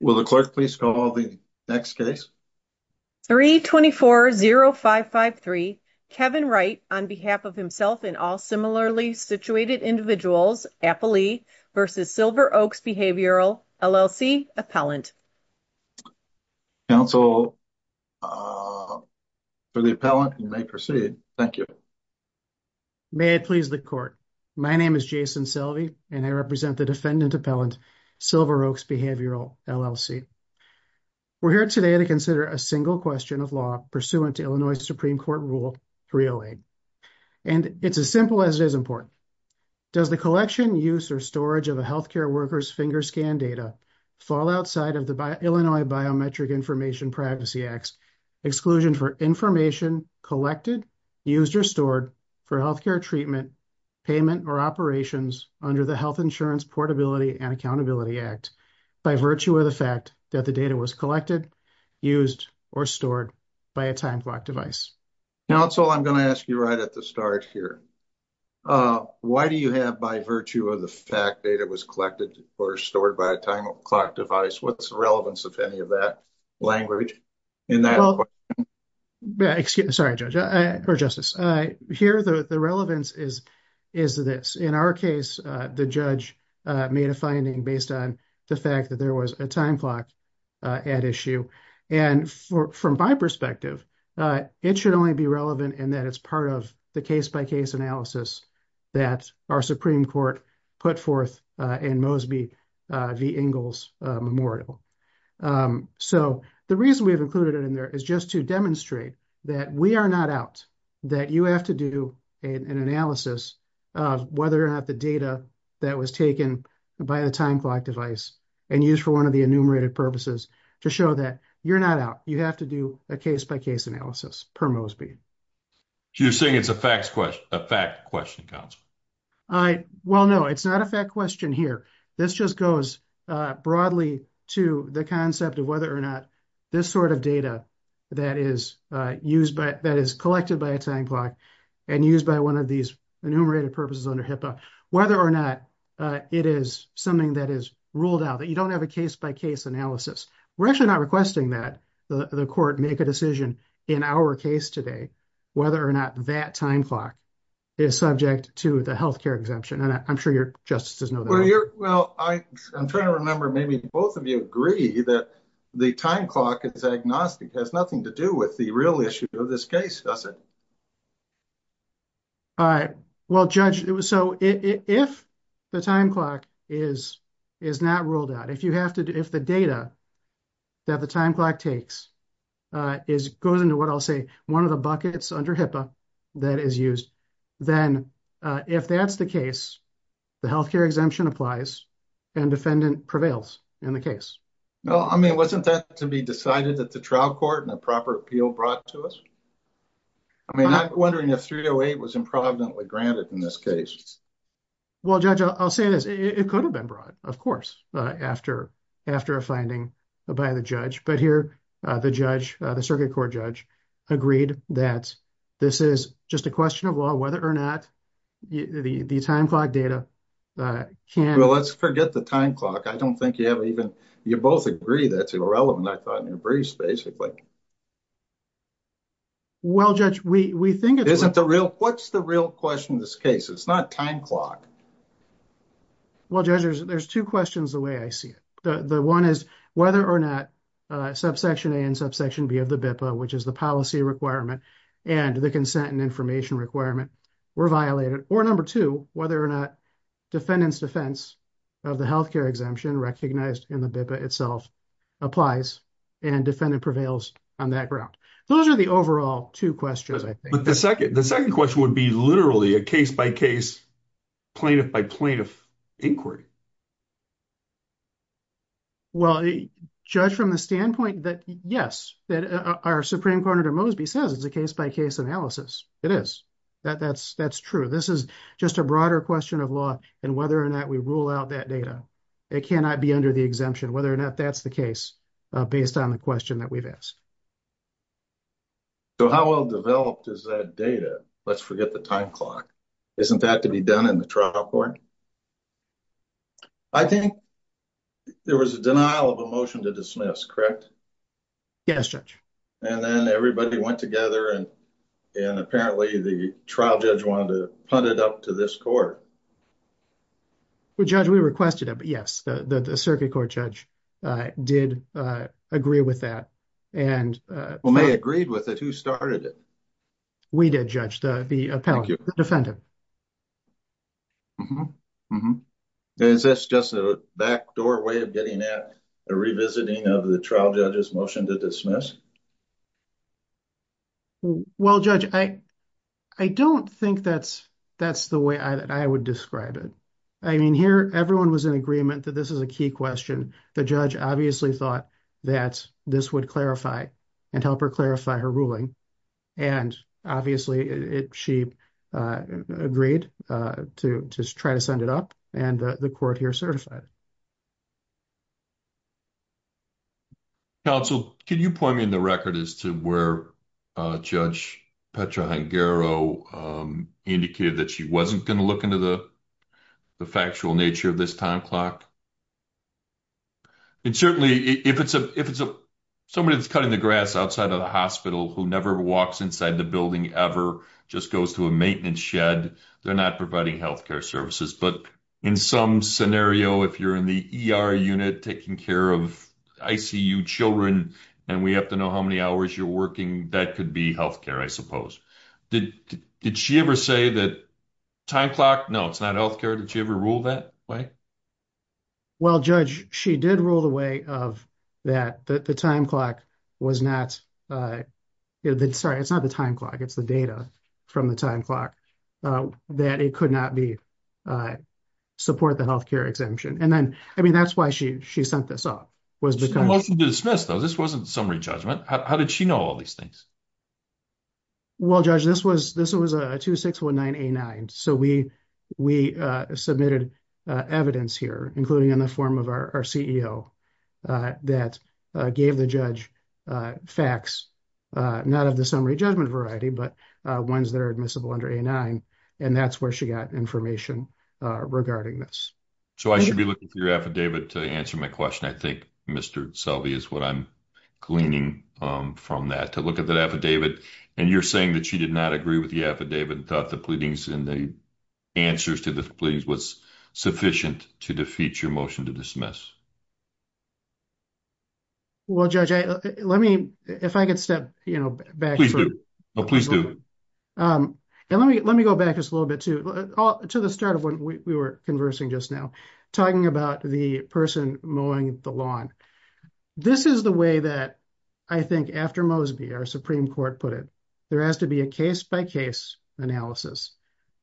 Will the clerk please call the next case? 3-24-0553, Kevin Wright on behalf of himself and all similarly situated individuals, Appley v. Silver Oaks Behavioral, LLC, Appellant. Counsel for the appellant, you may proceed. Thank you. May I please the court? My name is Jason Selvey and I represent the defendant appellant, Silver Oaks Behavioral, LLC. We're here today to consider a single question of law pursuant to Illinois Supreme Court Rule 308 and it's as simple as it is important. Does the collection, use, or storage of a healthcare worker's finger scan data fall outside of the Illinois Biometric Information Privacy Act's exclusion for information collected, used, or stored for healthcare treatment, payment, or operations under the Health Insurance Portability and Accountability Act by virtue of the fact that the data was collected, used, or stored by a time clock device? Counsel, I'm going to ask you right at the start here. Why do you have by virtue of the fact data was collected or stored by a time clock device? What's the relevance of any of that language in that? Well, excuse me, sorry, Judge, or Justice. Here, the relevance is this. In our case, the judge made a finding based on the fact that there was a time clock at issue and from my perspective, it should only be relevant in that it's part of the case-by-case analysis that our Supreme Court put forth in Mosby v. Ingalls Memorial. So the reason we have included it in there is just to demonstrate that we are not out, that you have to do an analysis of whether or not the data that was taken by the time clock device and used for one of the enumerated purposes to show that you're not out. You have to do a case-by-case analysis per Mosby. So you're saying it's a fact question, Counsel? Well, no, it's not a fact question here. This just goes broadly to the concept of whether or not this sort of data that is used, that is collected by a time clock and used by one of these enumerated purposes under HIPAA, whether or not it is something that is ruled out, that you don't have a case-by-case analysis. We're actually not requesting that the court make a decision in our case today whether or not that time clock is subject to the health care exemption. And I'm sure your justice does know that. Well, I'm trying to remember maybe both of you agree that the time clock is agnostic, has nothing to do with the real issue of this case, does it? All right. Well, Judge, so if the time clock is not ruled out, if the data that the time clock takes goes into what I'll say one of the buckets under HIPAA that is used, then if that's the case, the health care exemption applies and defendant prevails in the case. Well, I mean, wasn't that to be decided at the trial court and a proper appeal brought to us? I mean, I'm wondering if 308 was improvidently granted in this case. Well, Judge, I'll say this. It could have been brought, of course, after a finding by the judge, but here the judge, the circuit court judge, agreed that this is just a question of law, whether or not the time clock data can... Well, let's forget the time clock. I don't think you have even... You both agree that's irrelevant, I thought, in your briefs basically. Well, Judge, we think it's... Isn't the real... What's the real question in this case? It's not the time clock. Well, Judge, there's two questions the way I see it. The one is whether or not subsection A and subsection B of the BIPA, which is the policy requirement and the consent and information requirement, were violated. Or number two, whether or not defendant's defense of the health care exemption recognized in the BIPA itself applies and defendant prevails on that ground. Those are the overall two questions, I think. But the second question would be literally a case-by-case, plaintiff-by-plaintiff inquiry. Well, Judge, from the standpoint that, yes, that our Supreme Court Editor Mosby says it's a case-by-case analysis. It is. That's true. This is just a broader question of law and whether or not we rule out that data. It cannot be under the exemption, whether or not that's the case based on the question that we've asked. So how well developed is that data? Let's forget the time clock. Isn't that to be done in the trial court? I think there was a denial of a motion to dismiss, correct? Yes, Judge. And then everybody went together and apparently the trial judge wanted to punt it up to this court. Well, Judge, we requested it, but yes, the circuit court judge did agree with that. And when they agreed with it, who started it? We did, Judge, the defendant. Is this just a backdoor way of getting at a revisiting of the trial judge's motion to dismiss? Well, Judge, I don't think that's the way that I would describe it. I mean, here, everyone was in agreement that this is a key question. The judge obviously thought that this would clarify and help her clarify her ruling. And obviously, she agreed to try to send it up, and the court here certified it. Counsel, can you point me in the record as to where Judge Petra-Hangaro indicated that she wasn't going to look into the factual nature of this time clock? And certainly, if it's somebody that's cutting the grass outside of the hospital who never walks inside the building ever, just goes to a maintenance shed, they're not providing health care services. But in some scenario, if you're in the ER unit taking care of ICU children, and we have to know how many hours you're working, that could be health care, I suppose. Did she ever say that time clock? No, it's not health care. Did she ever rule that way? Well, Judge, she did rule the way of that, that the time clock was not, sorry, it's not the time clock, it's the data from the time clock, that it could not be support the health care exemption. And then, I mean, that's why she sent this up, was because- It wasn't dismissed, though. This wasn't summary judgment. How did she know all these things? Well, Judge, this was a 2619A9. So we submitted evidence here, including in the form of our CEO that gave the judge facts, not of the summary judgment variety, but ones that are admissible under A9. And that's where she got information regarding this. So I should be looking through your affidavit to answer my question. I think Mr. Selby is what I'm gleaning from that, look at that affidavit. And you're saying that she did not agree with the affidavit and thought the pleadings and the answers to the pleadings was sufficient to defeat your motion to dismiss. Well, Judge, let me, if I could step back- Please do. Oh, please do. And let me go back just a little bit to the start of when we were conversing just now, talking about the person mowing the lawn. This is the way that, I think, after Mosby, our Supreme Court put it. There has to be a case-by-case analysis.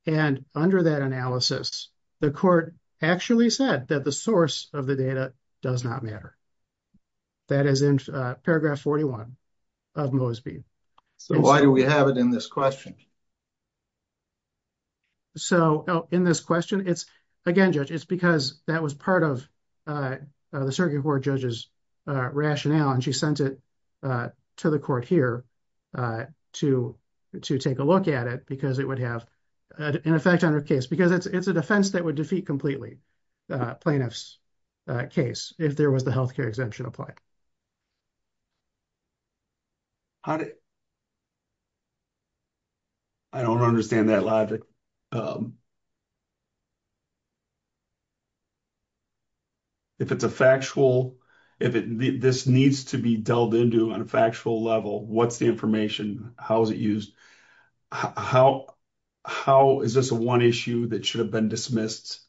And under that analysis, the court actually said that the source of the data does not matter. That is in paragraph 41 of Mosby. So why do we have it in this question? So, in this question, it's, again, Judge, it's because that was part of the circuit court judge's rationale. And she sent it to the court here to take a look at it because it would have an effect on her case. Because it's a defense that would defeat completely plaintiff's case if there was the healthcare exemption applied. I don't understand that logic. If it's a factual, if this needs to be delved into on a factual level, what's the information? How is it used? How is this one issue that should have been dismissed?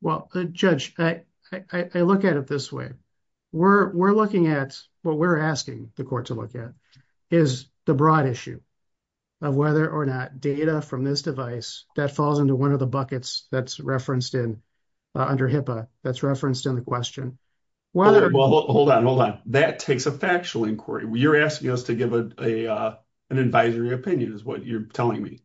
Well, Judge, I look at it this way. We're looking at, what we're asking the court to look at, is the broad issue of whether or not data from this device that falls into one of the buckets that's referenced in, under HIPAA, that's referenced in the question. Well, hold on, hold on. That takes a factual inquiry. You're asking us to give an advisory opinion is what you're telling me.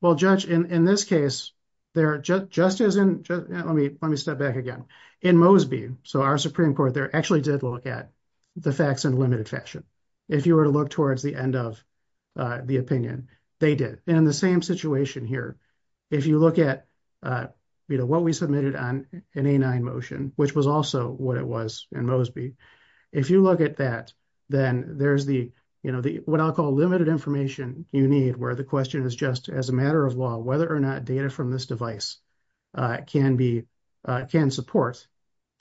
Well, Judge, in this case, there just isn't, let me step back again. In Mosby, so our Supreme Court there, actually did look at the facts in a limited fashion. If you were to look towards the end of the opinion, they did. And in the same situation here, if you look at what we submitted on an A9 motion, which was also what it was in Mosby, if you look at that, then there's the, what I'll call limited information you need, where the question is just as a matter of law, whether or not data from this device can support,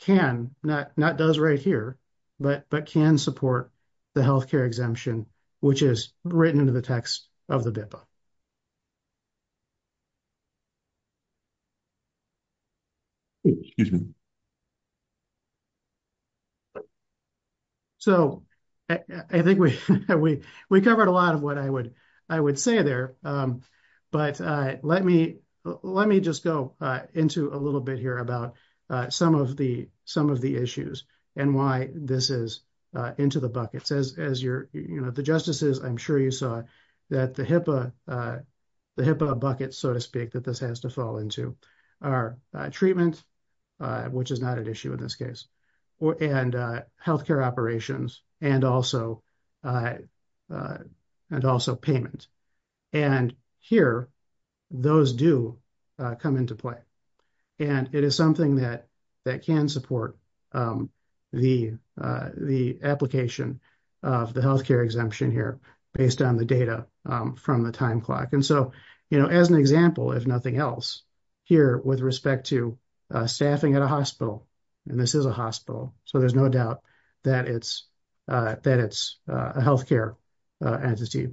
can, not does right here, but can support the healthcare exemption, which is written into the text of the BIPA. Oh, excuse me. So I think we covered a lot of what I would say there, but let me just go into a little bit here about some of the issues and why this is into the buckets. As you're, you know, the justices, I'm sure you saw that the HIPAA buckets, so to speak, that this has to fall into are treatment, which is not an issue in this case, and healthcare operations, and also payment. And here, those do come into play. And it is something that can support the application of the healthcare exemption here based on the data from the time clock. And so, you know, as an example, if nothing else, here with respect to staffing at a hospital, and this is a hospital, so there's no doubt that it's a healthcare entity,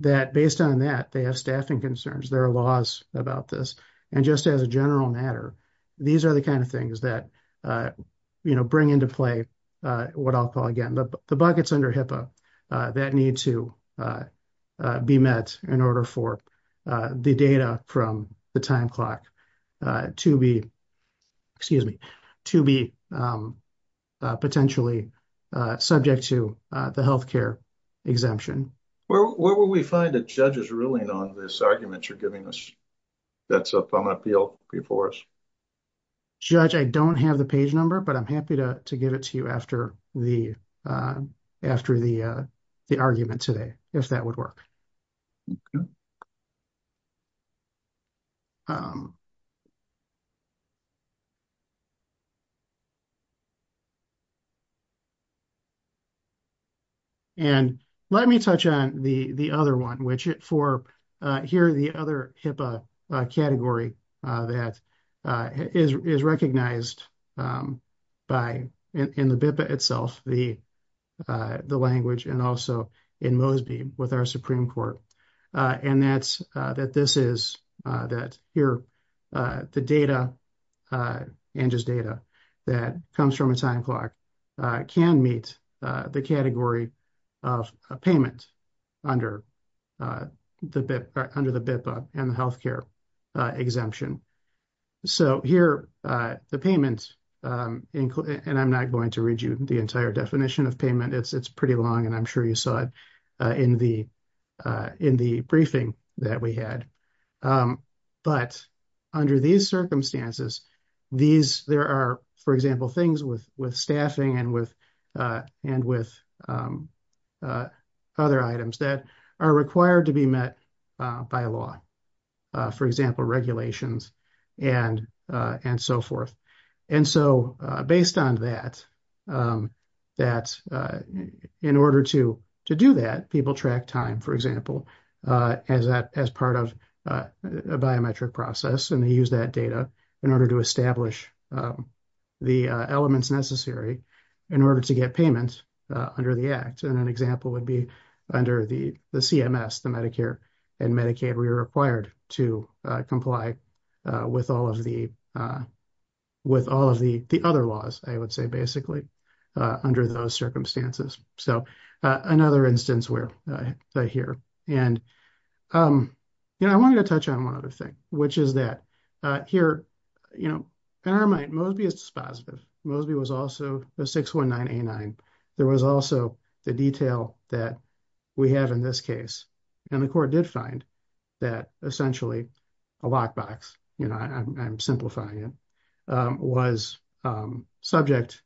that based on that, they have staffing concerns. There are laws about this. And just as a general matter, these are the under HIPAA that need to be met in order for the data from the time clock to be, excuse me, to be potentially subject to the healthcare exemption. Where would we find a judge's ruling on this argument you're giving us that's upon appeal before us? Judge, I don't have the page number, but I'm happy to give it to you after the argument today, if that would work. And let me touch on the other one, which for here, the other HIPAA category that is recognized by, in the BIPA itself, the language, and also in MOSB with our Supreme Court. And that's, that this is, that here, the data and just data that comes from a time clock can meet the category of payment under the BIPA and the healthcare exemption. So here, the payment, and I'm not going to read you the entire definition of payment. It's pretty long, and I'm sure you saw it in the briefing that we had. But under these circumstances, these, there are, for example, things with staffing and with other items that are required to be met by law, for example, regulations and so forth. And so based on that, in order to do that, people track time, for example, as part of a biometric process, and they use that data in order to establish the elements necessary in order to get payment under the act. And an example would be under the CMS, the Medicare and Medicaid, we are required to comply with all of the, with all of the other laws, I would say, basically, under those circumstances. So another instance where, here, and, you know, I wanted to touch on one other thing, which is that here, you know, in our mind, Mosby is dispositive. Mosby was also a 619A9. There was also the detail that we have in this case, and the court did find that essentially a lockbox, you know, I'm simplifying it, was subject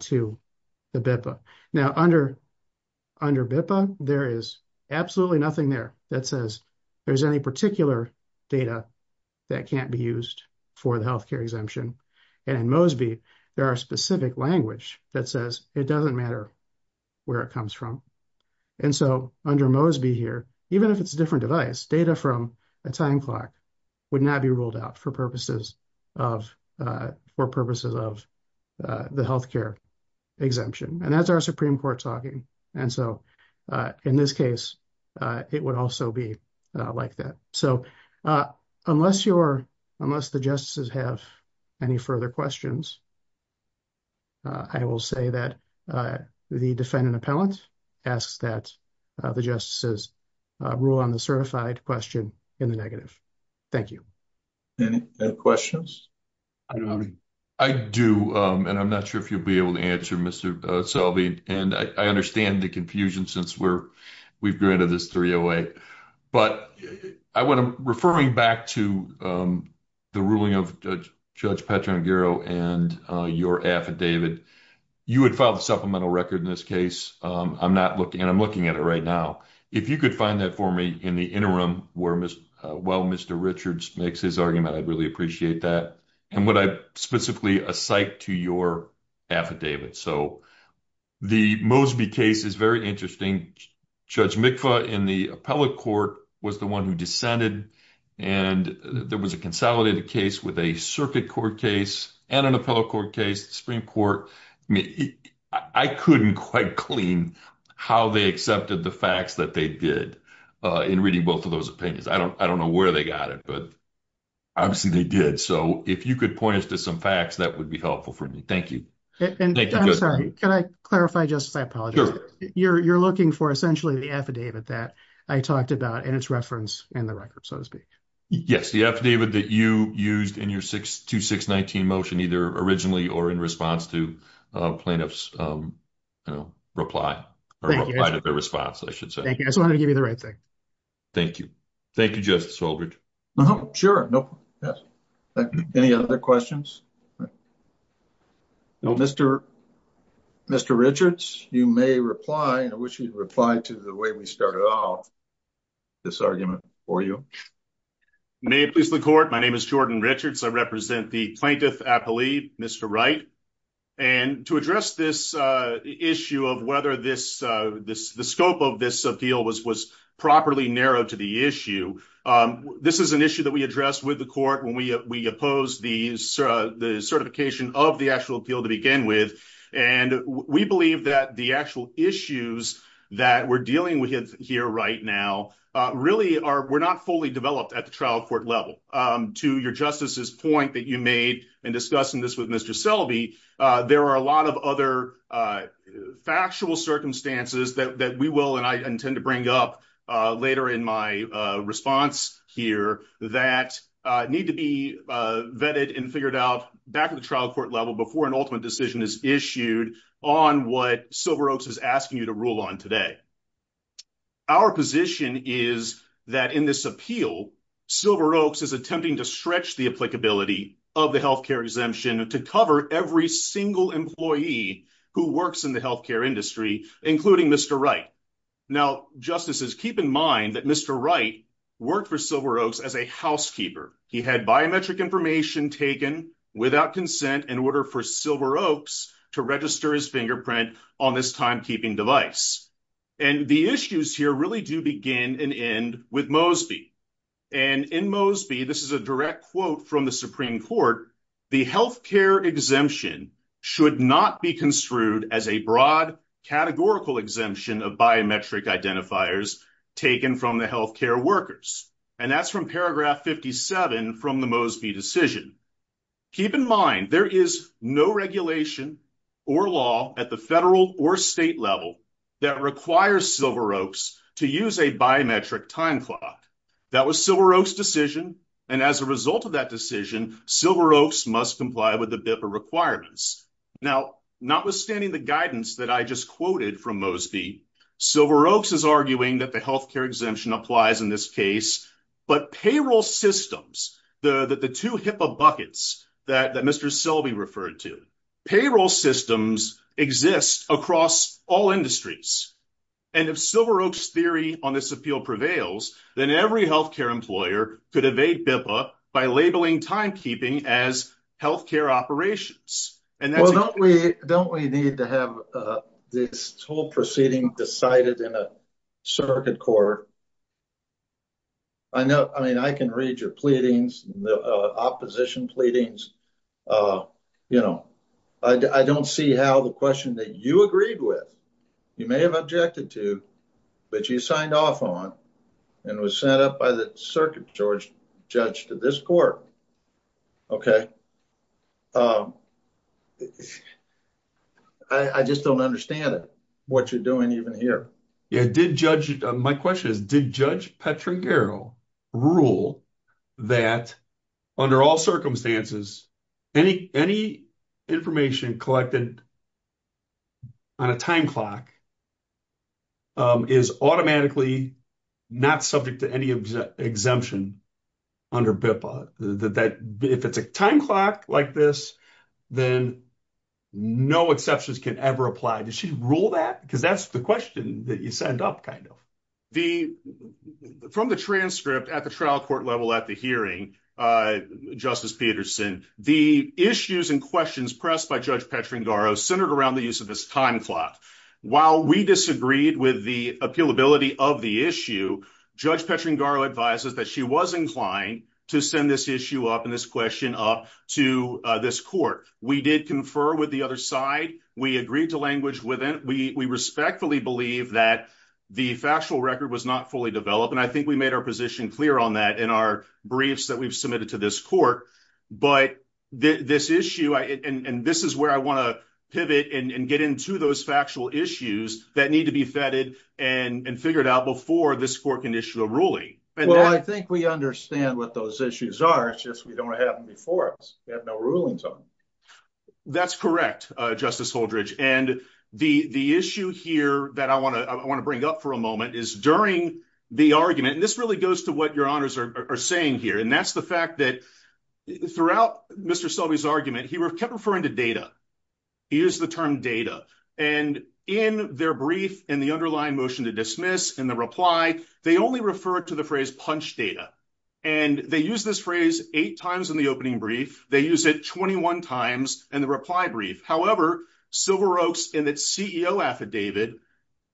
to the BIPA. Now under BIPA, there is absolutely nothing there that says there's any particular data that can't be used for the healthcare exemption. And in Mosby, there are specific language that says it doesn't matter where it comes from. And so under Mosby here, even if it's a different device, data from a time clock would not be ruled out for purposes of, for purposes of the healthcare exemption. And that's our Supreme Court talking. And so in this case, it would also be like that. So unless you're, unless the justices have any further questions, I will say that the defendant appellant asks that the justices rule on the certified question in the negative. Thank you. Any questions? I do. And I'm not sure if you'll be able to answer, Mr. Selby. And I understand the confusion since we're, we've granted this 308. But I want to, referring back to the ruling of Judge Petra Aguero and your affidavit, you had filed a supplemental record in this case. I'm not looking, and I'm looking at it right now. If you could find that for me in the interim where, while Mr. Richards makes his argument, I'd really appreciate that. And what I specifically assigned to your affidavit. So the Mosby case is very interesting. Judge Mikva in the appellate court was the one who dissented. And there was a consolidated case with a circuit court case and an appellate court case, the Supreme Court. I mean, I couldn't quite clean how they accepted the facts that they did in reading both of those opinions. I don't know where they got it, but obviously they did. So if you could point us to some facts, that would be helpful for me. Thank you. And I'm sorry, can I clarify, Justice? I apologize. You're looking for essentially the affidavit that I talked about and its reference in the record, so to speak. Yes. The affidavit that you used in your 2619 motion, either originally or in response to plaintiff's reply, or reply to their response, I should say. Thank you. I just wanted to give you the right thing. Thank you. Thank you, Justice Oldridge. Sure. Any other questions? Mr. Richards, you may reply. I wish you'd reply to the way we started off this argument for you. May it please the court. My name is Jordan Richards. I represent the plaintiff appellee, Mr. Wright. And to address this issue of whether the scope of this appeal was properly narrowed to the issue, this is an issue that we addressed with the court when we opposed the certification of the actual appeal to begin with. And we believe that the actual issues that we're dealing with here right now really were not fully developed at the trial court level. To your Justice's point that you made in discussing this with Mr. Selby, there are a lot of other factual circumstances that we will, and I intend to bring up later in my response here, that need to be vetted and figured out back at the trial court level before an ultimate decision is issued on what Silveroaks is asking you to rule on today. Our position is that in this appeal, Silveroaks is attempting to stretch the applicability of the health care exemption to cover every single employee who works in the health care industry, including Mr. Wright. Now, Justices, keep in mind that Mr. Wright worked for Silveroaks as a housekeeper. He had biometric information taken without consent in order for Silveroaks to register his fingerprint on this device. And the issues here really do begin and end with Mosby. And in Mosby, this is a direct quote from the Supreme Court, the health care exemption should not be construed as a broad categorical exemption of biometric identifiers taken from the health care workers. And that's from paragraph 57 from the Mosby decision. Keep in mind, there is no regulation or law at the federal or state level that requires Silveroaks to use a biometric time clock. That was Silveroaks decision. And as a result of that decision, Silveroaks must comply with the BIPA requirements. Now, notwithstanding the guidance that I just quoted from Mosby, Silveroaks is arguing that the health care exemption applies in this case, but payroll systems, the two HIPAA buckets that Mr. Selby referred to, payroll systems exist across all industries. And if Silveroaks theory on this appeal prevails, then every health care employer could evade BIPA by labeling timekeeping as health care operations. Well, don't we need to have this whole proceeding decided in a circuit court? I know, I mean, I can read your pleadings, the opposition pleadings. You know, I don't see how the question that you agreed with, you may have objected to, but you signed off on and was sent up by the circuit judge to this court. Okay. I just don't understand it, what you're doing even here. Yeah, did judge, my question is, did Judge Petragero rule that under all circumstances, any information collected on a time clock is automatically not subject to any exemption under BIPA? If it's a time clock like this, then no exceptions can ever apply. Did she rule that? Because that's the question that you sent up kind of. From the transcript at the trial court level at the hearing, Justice Peterson, the issues and questions pressed by Judge Petragero centered around the use of this time clock. While we disagreed with the appealability of the issue, Judge Petragero advises that she was inclined to send this issue up and this question up to this court. We did confer with the other side, we agreed to language with it. We respectfully believe that the factual record was not fully developed. And I think we made our position clear on that in our briefs that we've submitted to this court. But this issue, and this is where I want to pivot and get into those factual issues that need to be vetted and figured out before this court can issue a ruling. Well, I think we understand what those issues are. It's just we don't have them before us. We have no rulings on them. That's correct, Justice Holdredge. And the issue here that I want to bring up for a moment is during the argument, and this really goes to what your honors are saying here. And that's the fact that throughout Mr. Selby's argument, he kept referring to data. He used the term data. And in their brief, in the underlying motion to dismiss, in the reply, they only refer to the phrase punch data. And they use this phrase eight times in the opening brief. They use it 21 times in the reply brief. However, Silveroaks in its CEO affidavit,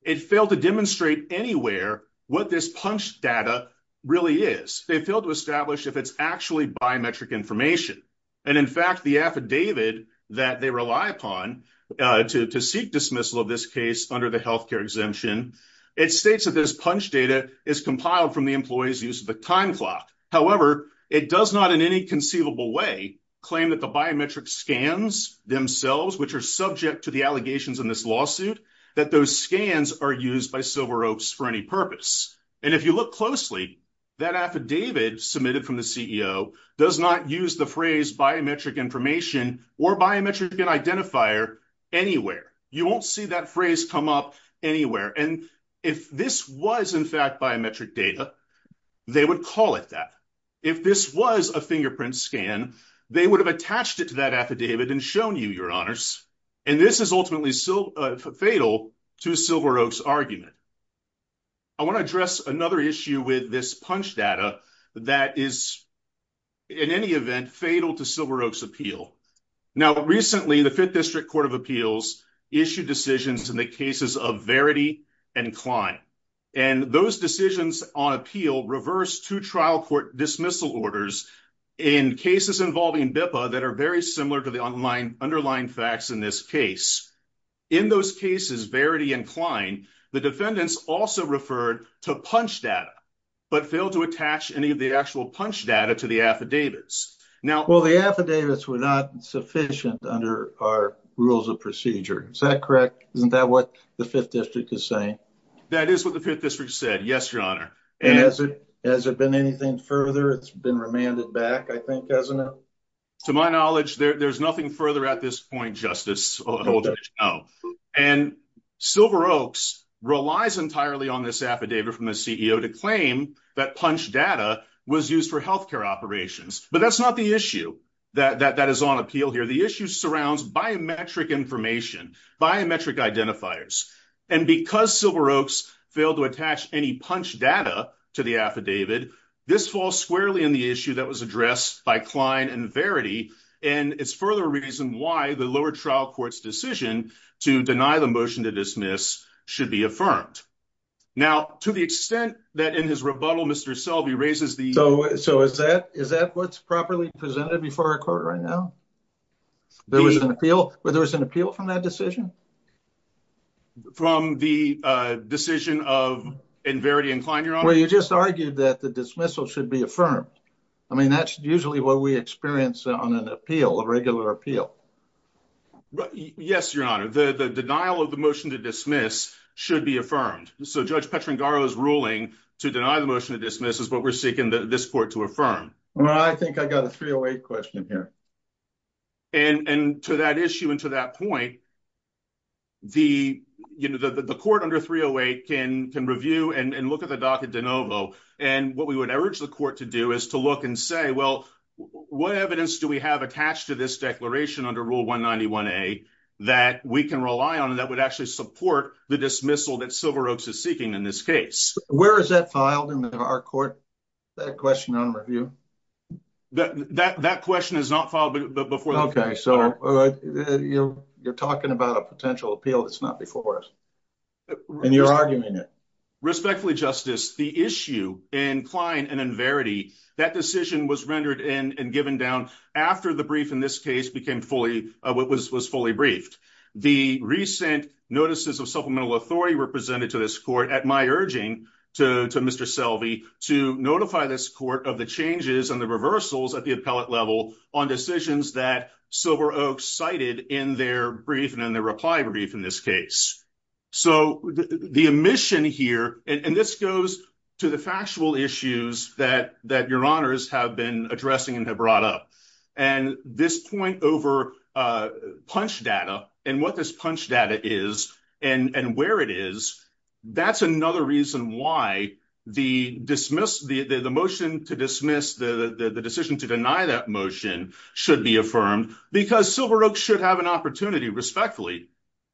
it failed to demonstrate anywhere what this punch data really is. They failed to establish if it's actually biometric information. And in fact, the affidavit that they rely upon to seek dismissal of this case under the healthcare exemption, it states that this punch data is compiled from the employee's use of the time clock. However, it does not in any conceivable way claim that the biometric scans themselves, which are subject to the allegations in this lawsuit, that those scans are used by Silveroaks for any purpose. And if you look closely, that affidavit submitted from the CEO does not use the phrase biometric information or biometric identifier anywhere. You won't see that phrase come up anywhere. And if this was in fact biometric data, they would call it that. If this was a fingerprint scan, they would have attached it to that affidavit and shown you, your honors. And this is ultimately fatal to Silveroaks' argument. I want to address another issue with this punch data that is in any event fatal to Silveroaks' appeal. Now, recently, the Fifth District Court of Appeals issued decisions in the cases of Verity and Klein. And those decisions on appeal reversed two trial court dismissal orders in cases involving BIPA that are very similar to the underlying facts in this case. In those cases, Verity and Klein, the defendants also referred to punch data, but failed to attach any of the actual punch data to the affidavits. Well, the affidavits were not sufficient under our rules of procedure. Is that correct? Isn't that what the Fifth District is saying? That is what the Fifth District said. Yes, your honor. And has it been anything further? It's been remanded back, I think, hasn't it? To my knowledge, there's nothing further at this point, Justice Holdren. And Silveroaks relies entirely on this affidavit from the CEO to claim that punch data was used for healthcare operations. But that's not the issue that is on appeal here. The issue surrounds biometric information, biometric identifiers. And because Silveroaks failed to attach any punch data to the affidavit, this falls squarely in the issue that was addressed by Klein and Verity. And it's further reason why the lower trial court's decision to deny the motion to dismiss should be affirmed. Now, to the extent that in his rebuttal, Mr. Selby raises the... So is that what's properly presented before our court right now? There was an appeal from that decision? From the decision of Verity and Klein, your honor? Well, you just argued that the dismissal should be affirmed. I mean, that's usually what we on an appeal, a regular appeal. Yes, your honor. The denial of the motion to dismiss should be affirmed. So Judge Petrangaro's ruling to deny the motion to dismiss is what we're seeking this court to affirm. Well, I think I got a 308 question here. And to that issue and to that point, the court under 308 can review and look at the docket de Well, what evidence do we have attached to this declaration under Rule 191A that we can rely on and that would actually support the dismissal that Silveroaks is seeking in this case? Where is that filed in our court, that question on review? That question is not filed before... Okay. So you're talking about a potential appeal that's not before us and you're arguing it. Respectfully, Justice, the issue in Klein and in Verity, that decision was rendered in and given down after the brief in this case was fully briefed. The recent notices of supplemental authority were presented to this court at my urging to Mr. Selvey to notify this court of the changes and the reversals at the appellate level on decisions that Silveroaks cited in their reply brief in this case. So the omission here, and this goes to the factual issues that your honors have been addressing and have brought up. And this point over punch data and what this punch data is and where it is, that's another reason why the motion to dismiss the decision to deny that motion should be affirmed because Silveroaks should have an opportunity respectfully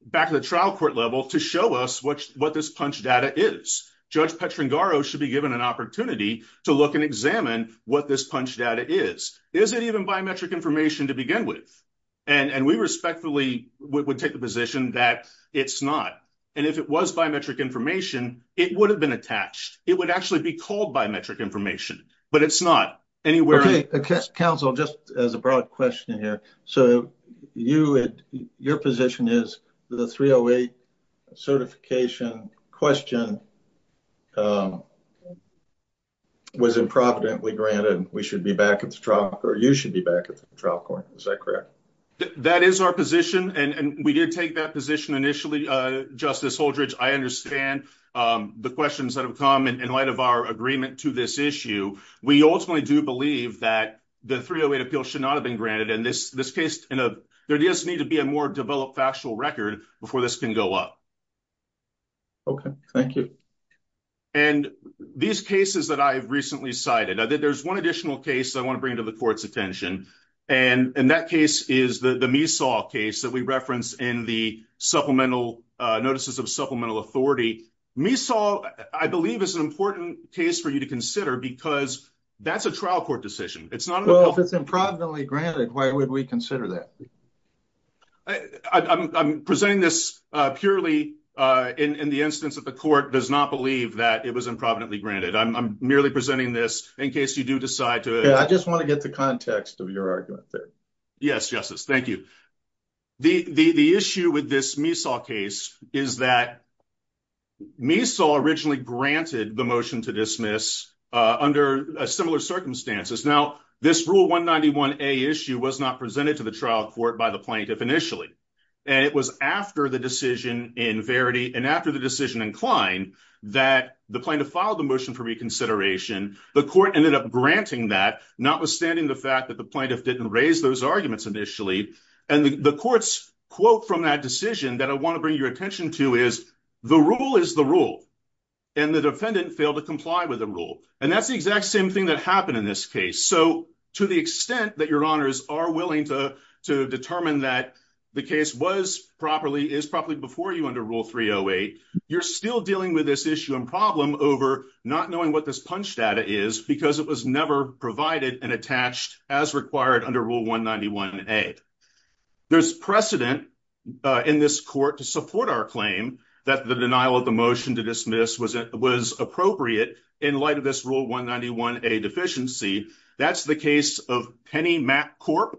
back to the trial court level to show us what this punch data is. Judge Petrangaro should be given an opportunity to look and examine what this punch data is. Is it even biometric information to begin with? And we respectfully would take the position that it's not. And if it was biometric information, it would have been attached. It would actually be called biometric information, but it's not anywhere. Counsel, just as a broad question here. So you, your position is the 308 certification question was improvidently granted. We should be back at the trial or you should be back at the trial court. Is that correct? That is our position. And we did take that position initially, Justice Holdridge. I understand the questions that have come in light of our agreement to this issue. We ultimately do believe that the 308 appeal should not have been granted in this case. There does need to be a more developed factual record before this can go up. Okay. Thank you. And these cases that I've recently cited, there's one additional case I want to bring to the court's attention. And that case is the Measaw case that we reference in the supplemental notices of supplemental authority. Measaw I believe is an important case for you to consider because that's a trial court decision. Well, if it's improvidently granted, why would we consider that? I'm presenting this purely in the instance that the court does not believe that it was improvidently granted. I'm merely presenting this in case you do decide to. I just want to get the context of your argument there. Yes, Justice. Thank you. The issue with this Measaw case is that Measaw originally granted the motion to dismiss under similar circumstances. Now, this Rule 191A issue was not presented to the trial court by the plaintiff initially. And it was after the decision in Verity and after the decision in Klein that the plaintiff filed the motion for reconsideration. The court ended up granting that, notwithstanding the fact that the plaintiff didn't raise those arguments initially. And the court's quote from that decision that I want to bring your attention to is, the rule is the rule, and the defendant failed to comply with the rule. And that's the exact same thing that happened in this case. So to the extent that your honors are willing to determine that the case was properly, is properly before you under Rule 308, you're still dealing with this issue and problem over not knowing what this punch data is because it was never provided and attached as required under Rule 191A. There's precedent in this court to support claim that the denial of the motion to dismiss was appropriate in light of this Rule 191A deficiency. That's the case of Penny MacCorp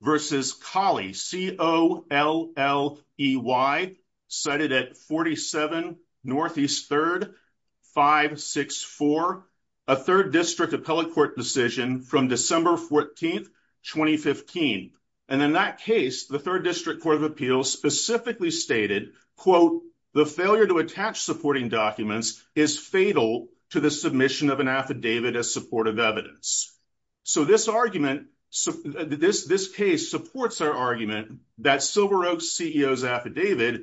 versus Colley, C-O-L-L-E-Y, cited at 47 Northeast 3rd, 564, a third district appellate court decision from December 14th, 2015. And in that case, the third district court of appeals specifically stated, quote, the failure to attach supporting documents is fatal to the submission of an affidavit as supportive evidence. So this argument, this case supports our argument that Silveroak's CEO's affidavit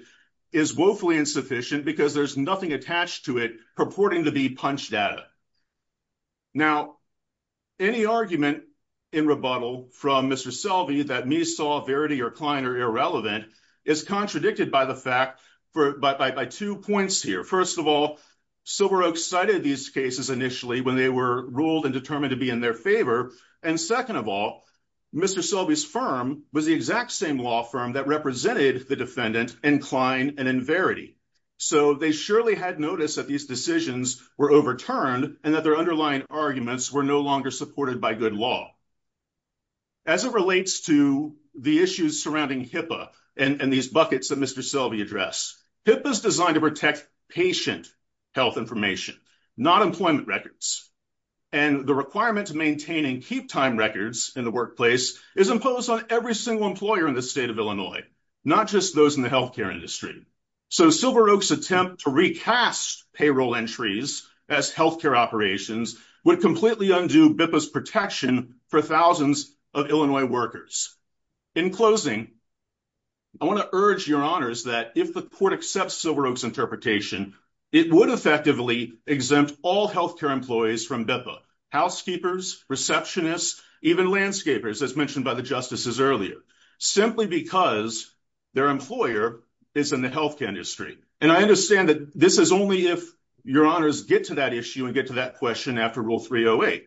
is woefully insufficient because there's nothing attached to it purporting to be punch data. Now, any argument in rebuttal from Mr. Selvey that me saw Verity or Klein are irrelevant is contradicted by the fact, by two points here. First of all, Silveroak cited these cases initially when they were ruled and determined to be in their favor. And second of all, Mr. Selvey's firm was the exact same law firm that represented the defendant in Klein and in Verity. So they surely had noticed that these decisions were overturned and that their underlying arguments were no longer supported by good law. As it relates to the issues surrounding HIPAA and these buckets that Mr. Selvey addressed, HIPAA is designed to protect patient health information, not employment records. And the requirement to maintain and keep time records in the workplace is imposed on every single employer in the state of Illinois, not just those in the healthcare industry. So Silveroak's attempt to recast payroll entries as healthcare operations would completely undo HIPAA's protection for thousands of Illinois workers. In closing, I want to urge your honors that if the court accepts Silveroak's interpretation, it would effectively exempt all healthcare employees from HIPAA, housekeepers, receptionists, even landscapers, as mentioned by the justices earlier, simply because their employer is in the healthcare industry. And I understand that this is only if your honors get to that issue and get to that question after Rule 308.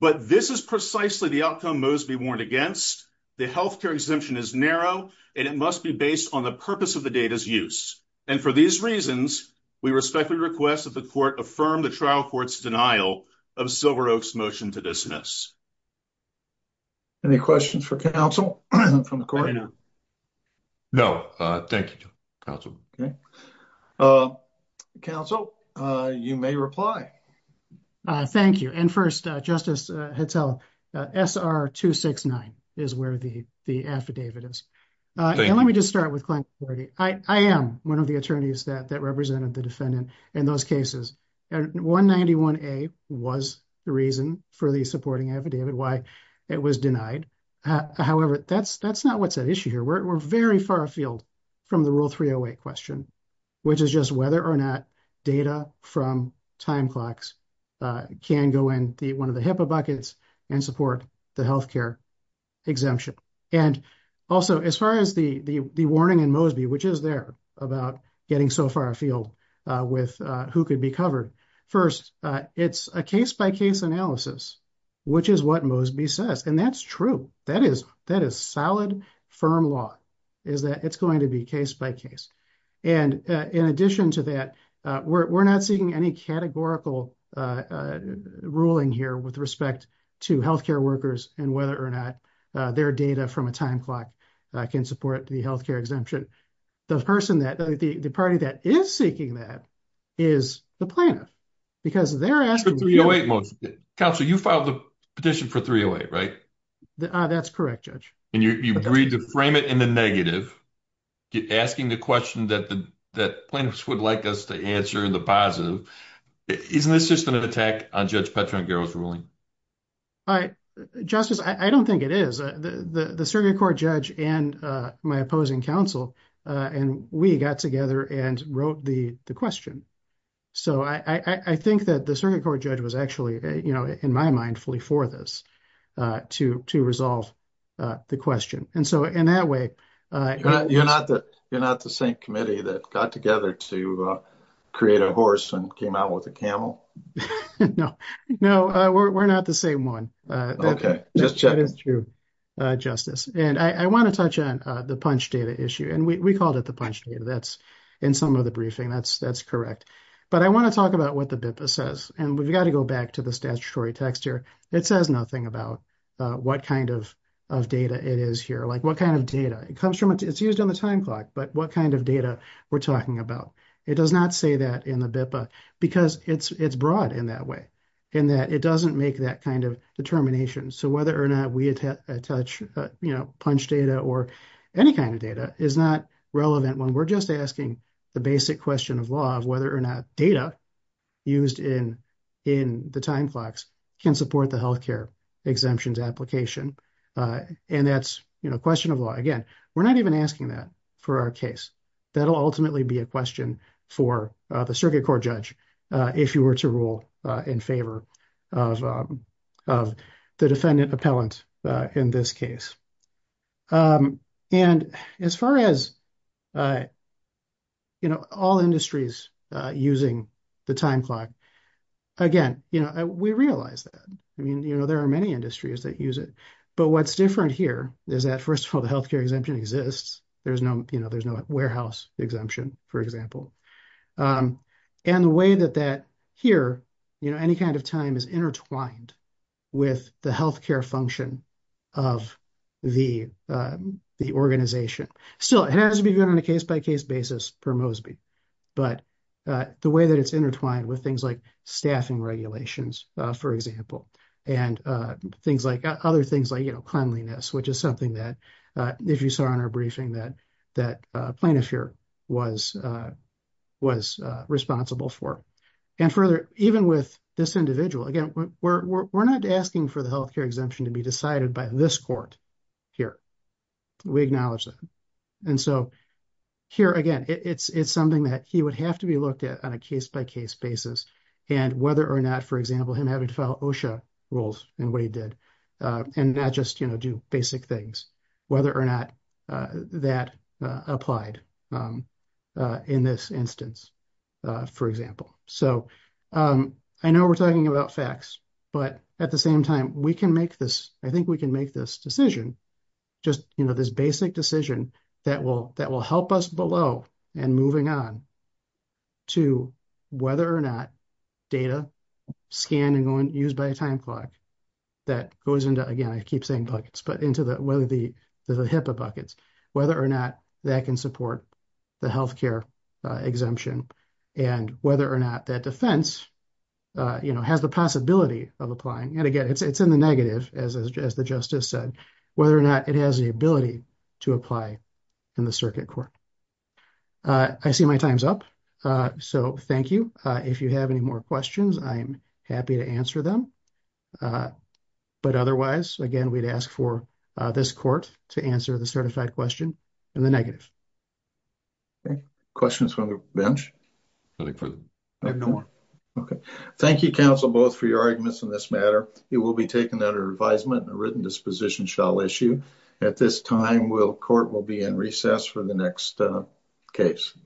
But this is precisely the outcome Mosby warned against. The healthcare exemption is narrow and it must be based on the purpose of the data's use. And for these reasons, we respectfully request that the court affirm the trial court's denial of Silveroak's motion to dismiss. Any questions for counsel? No. Thank you, counsel. Okay. Counsel, you may reply. Thank you. And first, Justice Hetzel, SR 269 is where the the affidavit is. And let me just start with client authority. I am one of the attorneys that represented the defendant in those cases. 191A was the reason for the supporting affidavit, why it was denied. However, that's not what's at issue here. We're very far afield from the Rule 308 question, which is just whether or not data from time clocks can go in one of the HIPAA buckets and support the healthcare exemption. And also, as far as the warning in Mosby, which is there about getting so far afield with who could be covered. First, it's a case-by-case analysis, which is what Mosby says. And that's true. That is solid, firm law, is that it's going to be case-by-case. And in addition to that, we're not seeing any categorical ruling here with respect to healthcare workers and whether or not their data from a time clock can support the healthcare exemption. The party that is seeking that is the plaintiff, because they're asking- For 308, Mosby. Counsel, you filed the petition for 308, right? Ah, that's correct, Judge. And you agreed to frame it in the negative, asking the question that plaintiffs would like us to answer in the positive. Isn't this just an attack on Judge Petrangelo's ruling? All right. Justice, I don't think it is. The circuit court judge and my opposing counsel, and we got together and wrote the question. So, I think that the circuit court judge was actually, you know, in my mind, fully for this, to resolve the question. And so, in that way- You're not the same committee that got together to create a horse and came out with a camel? No. No, we're not the same one. Okay. Just checking. Justice, and I want to touch on the punch data issue. And we called it the punch data. That's in some of the briefing. That's correct. But I want to talk about what the BIPA says. And we've got to go back to the statutory text here. It says nothing about what kind of data it is here. Like, what kind of data? It's used on the time clock, but what kind of data we're talking about? It does not say that in the BIPA, because it's broad in that way, in that it doesn't make that kind of determination. So, whether or not we attach punch data or any kind of data is not relevant when we're just asking the basic question of law of whether or not data used in the time clocks can support the health care exemptions application. And that's a question of law. Again, we're not even asking that for our case. That'll ultimately be a question for the circuit court if you were to rule in favor of the defendant appellant in this case. And as far as all industries using the time clock, again, we realize that. I mean, there are many industries that use it. But what's different here is that, first of all, the health care exemption exists. There's no warehouse exemption, for example. And the way that that here, any kind of time is intertwined with the health care function of the organization. Still, it has to be done on a case-by-case basis per Mosby. But the way that it's intertwined with things like staffing regulations, for example, and other things like cleanliness, which is something that if you saw in our briefing that plaintiff here was responsible for. And further, even with this individual, again, we're not asking for the health care exemption to be decided by this court here. We acknowledge that. And so here, again, it's something that he would have to be looked at on a case-by-case basis. And whether or not, for example, him having to follow OSHA rules and what he did, and not just do basic things, whether or not that applied in this instance, for example. So I know we're talking about facts, but at the same time, we can make this, I think we can make this decision, just this basic decision that will help us below and moving on to whether or not data scanned and used by a time clock that goes into, again, I keep saying buckets, but into the HIPAA buckets, whether or not that can support the health care exemption and whether or not that defense has the possibility of applying. And again, it's in the negative, as the justice said, whether or not it has the ability to apply in the circuit court. I see my time's up. So thank you. If you have any more questions, I'm happy to answer them. But otherwise, again, we'd ask for this court to answer the certified question in the negative. Questions from the bench? I have no more. Okay. Thank you, counsel, both for your arguments in this matter. It will be taken under advisement and a written disposition shall issue. At this time, court will be in recess for the next case.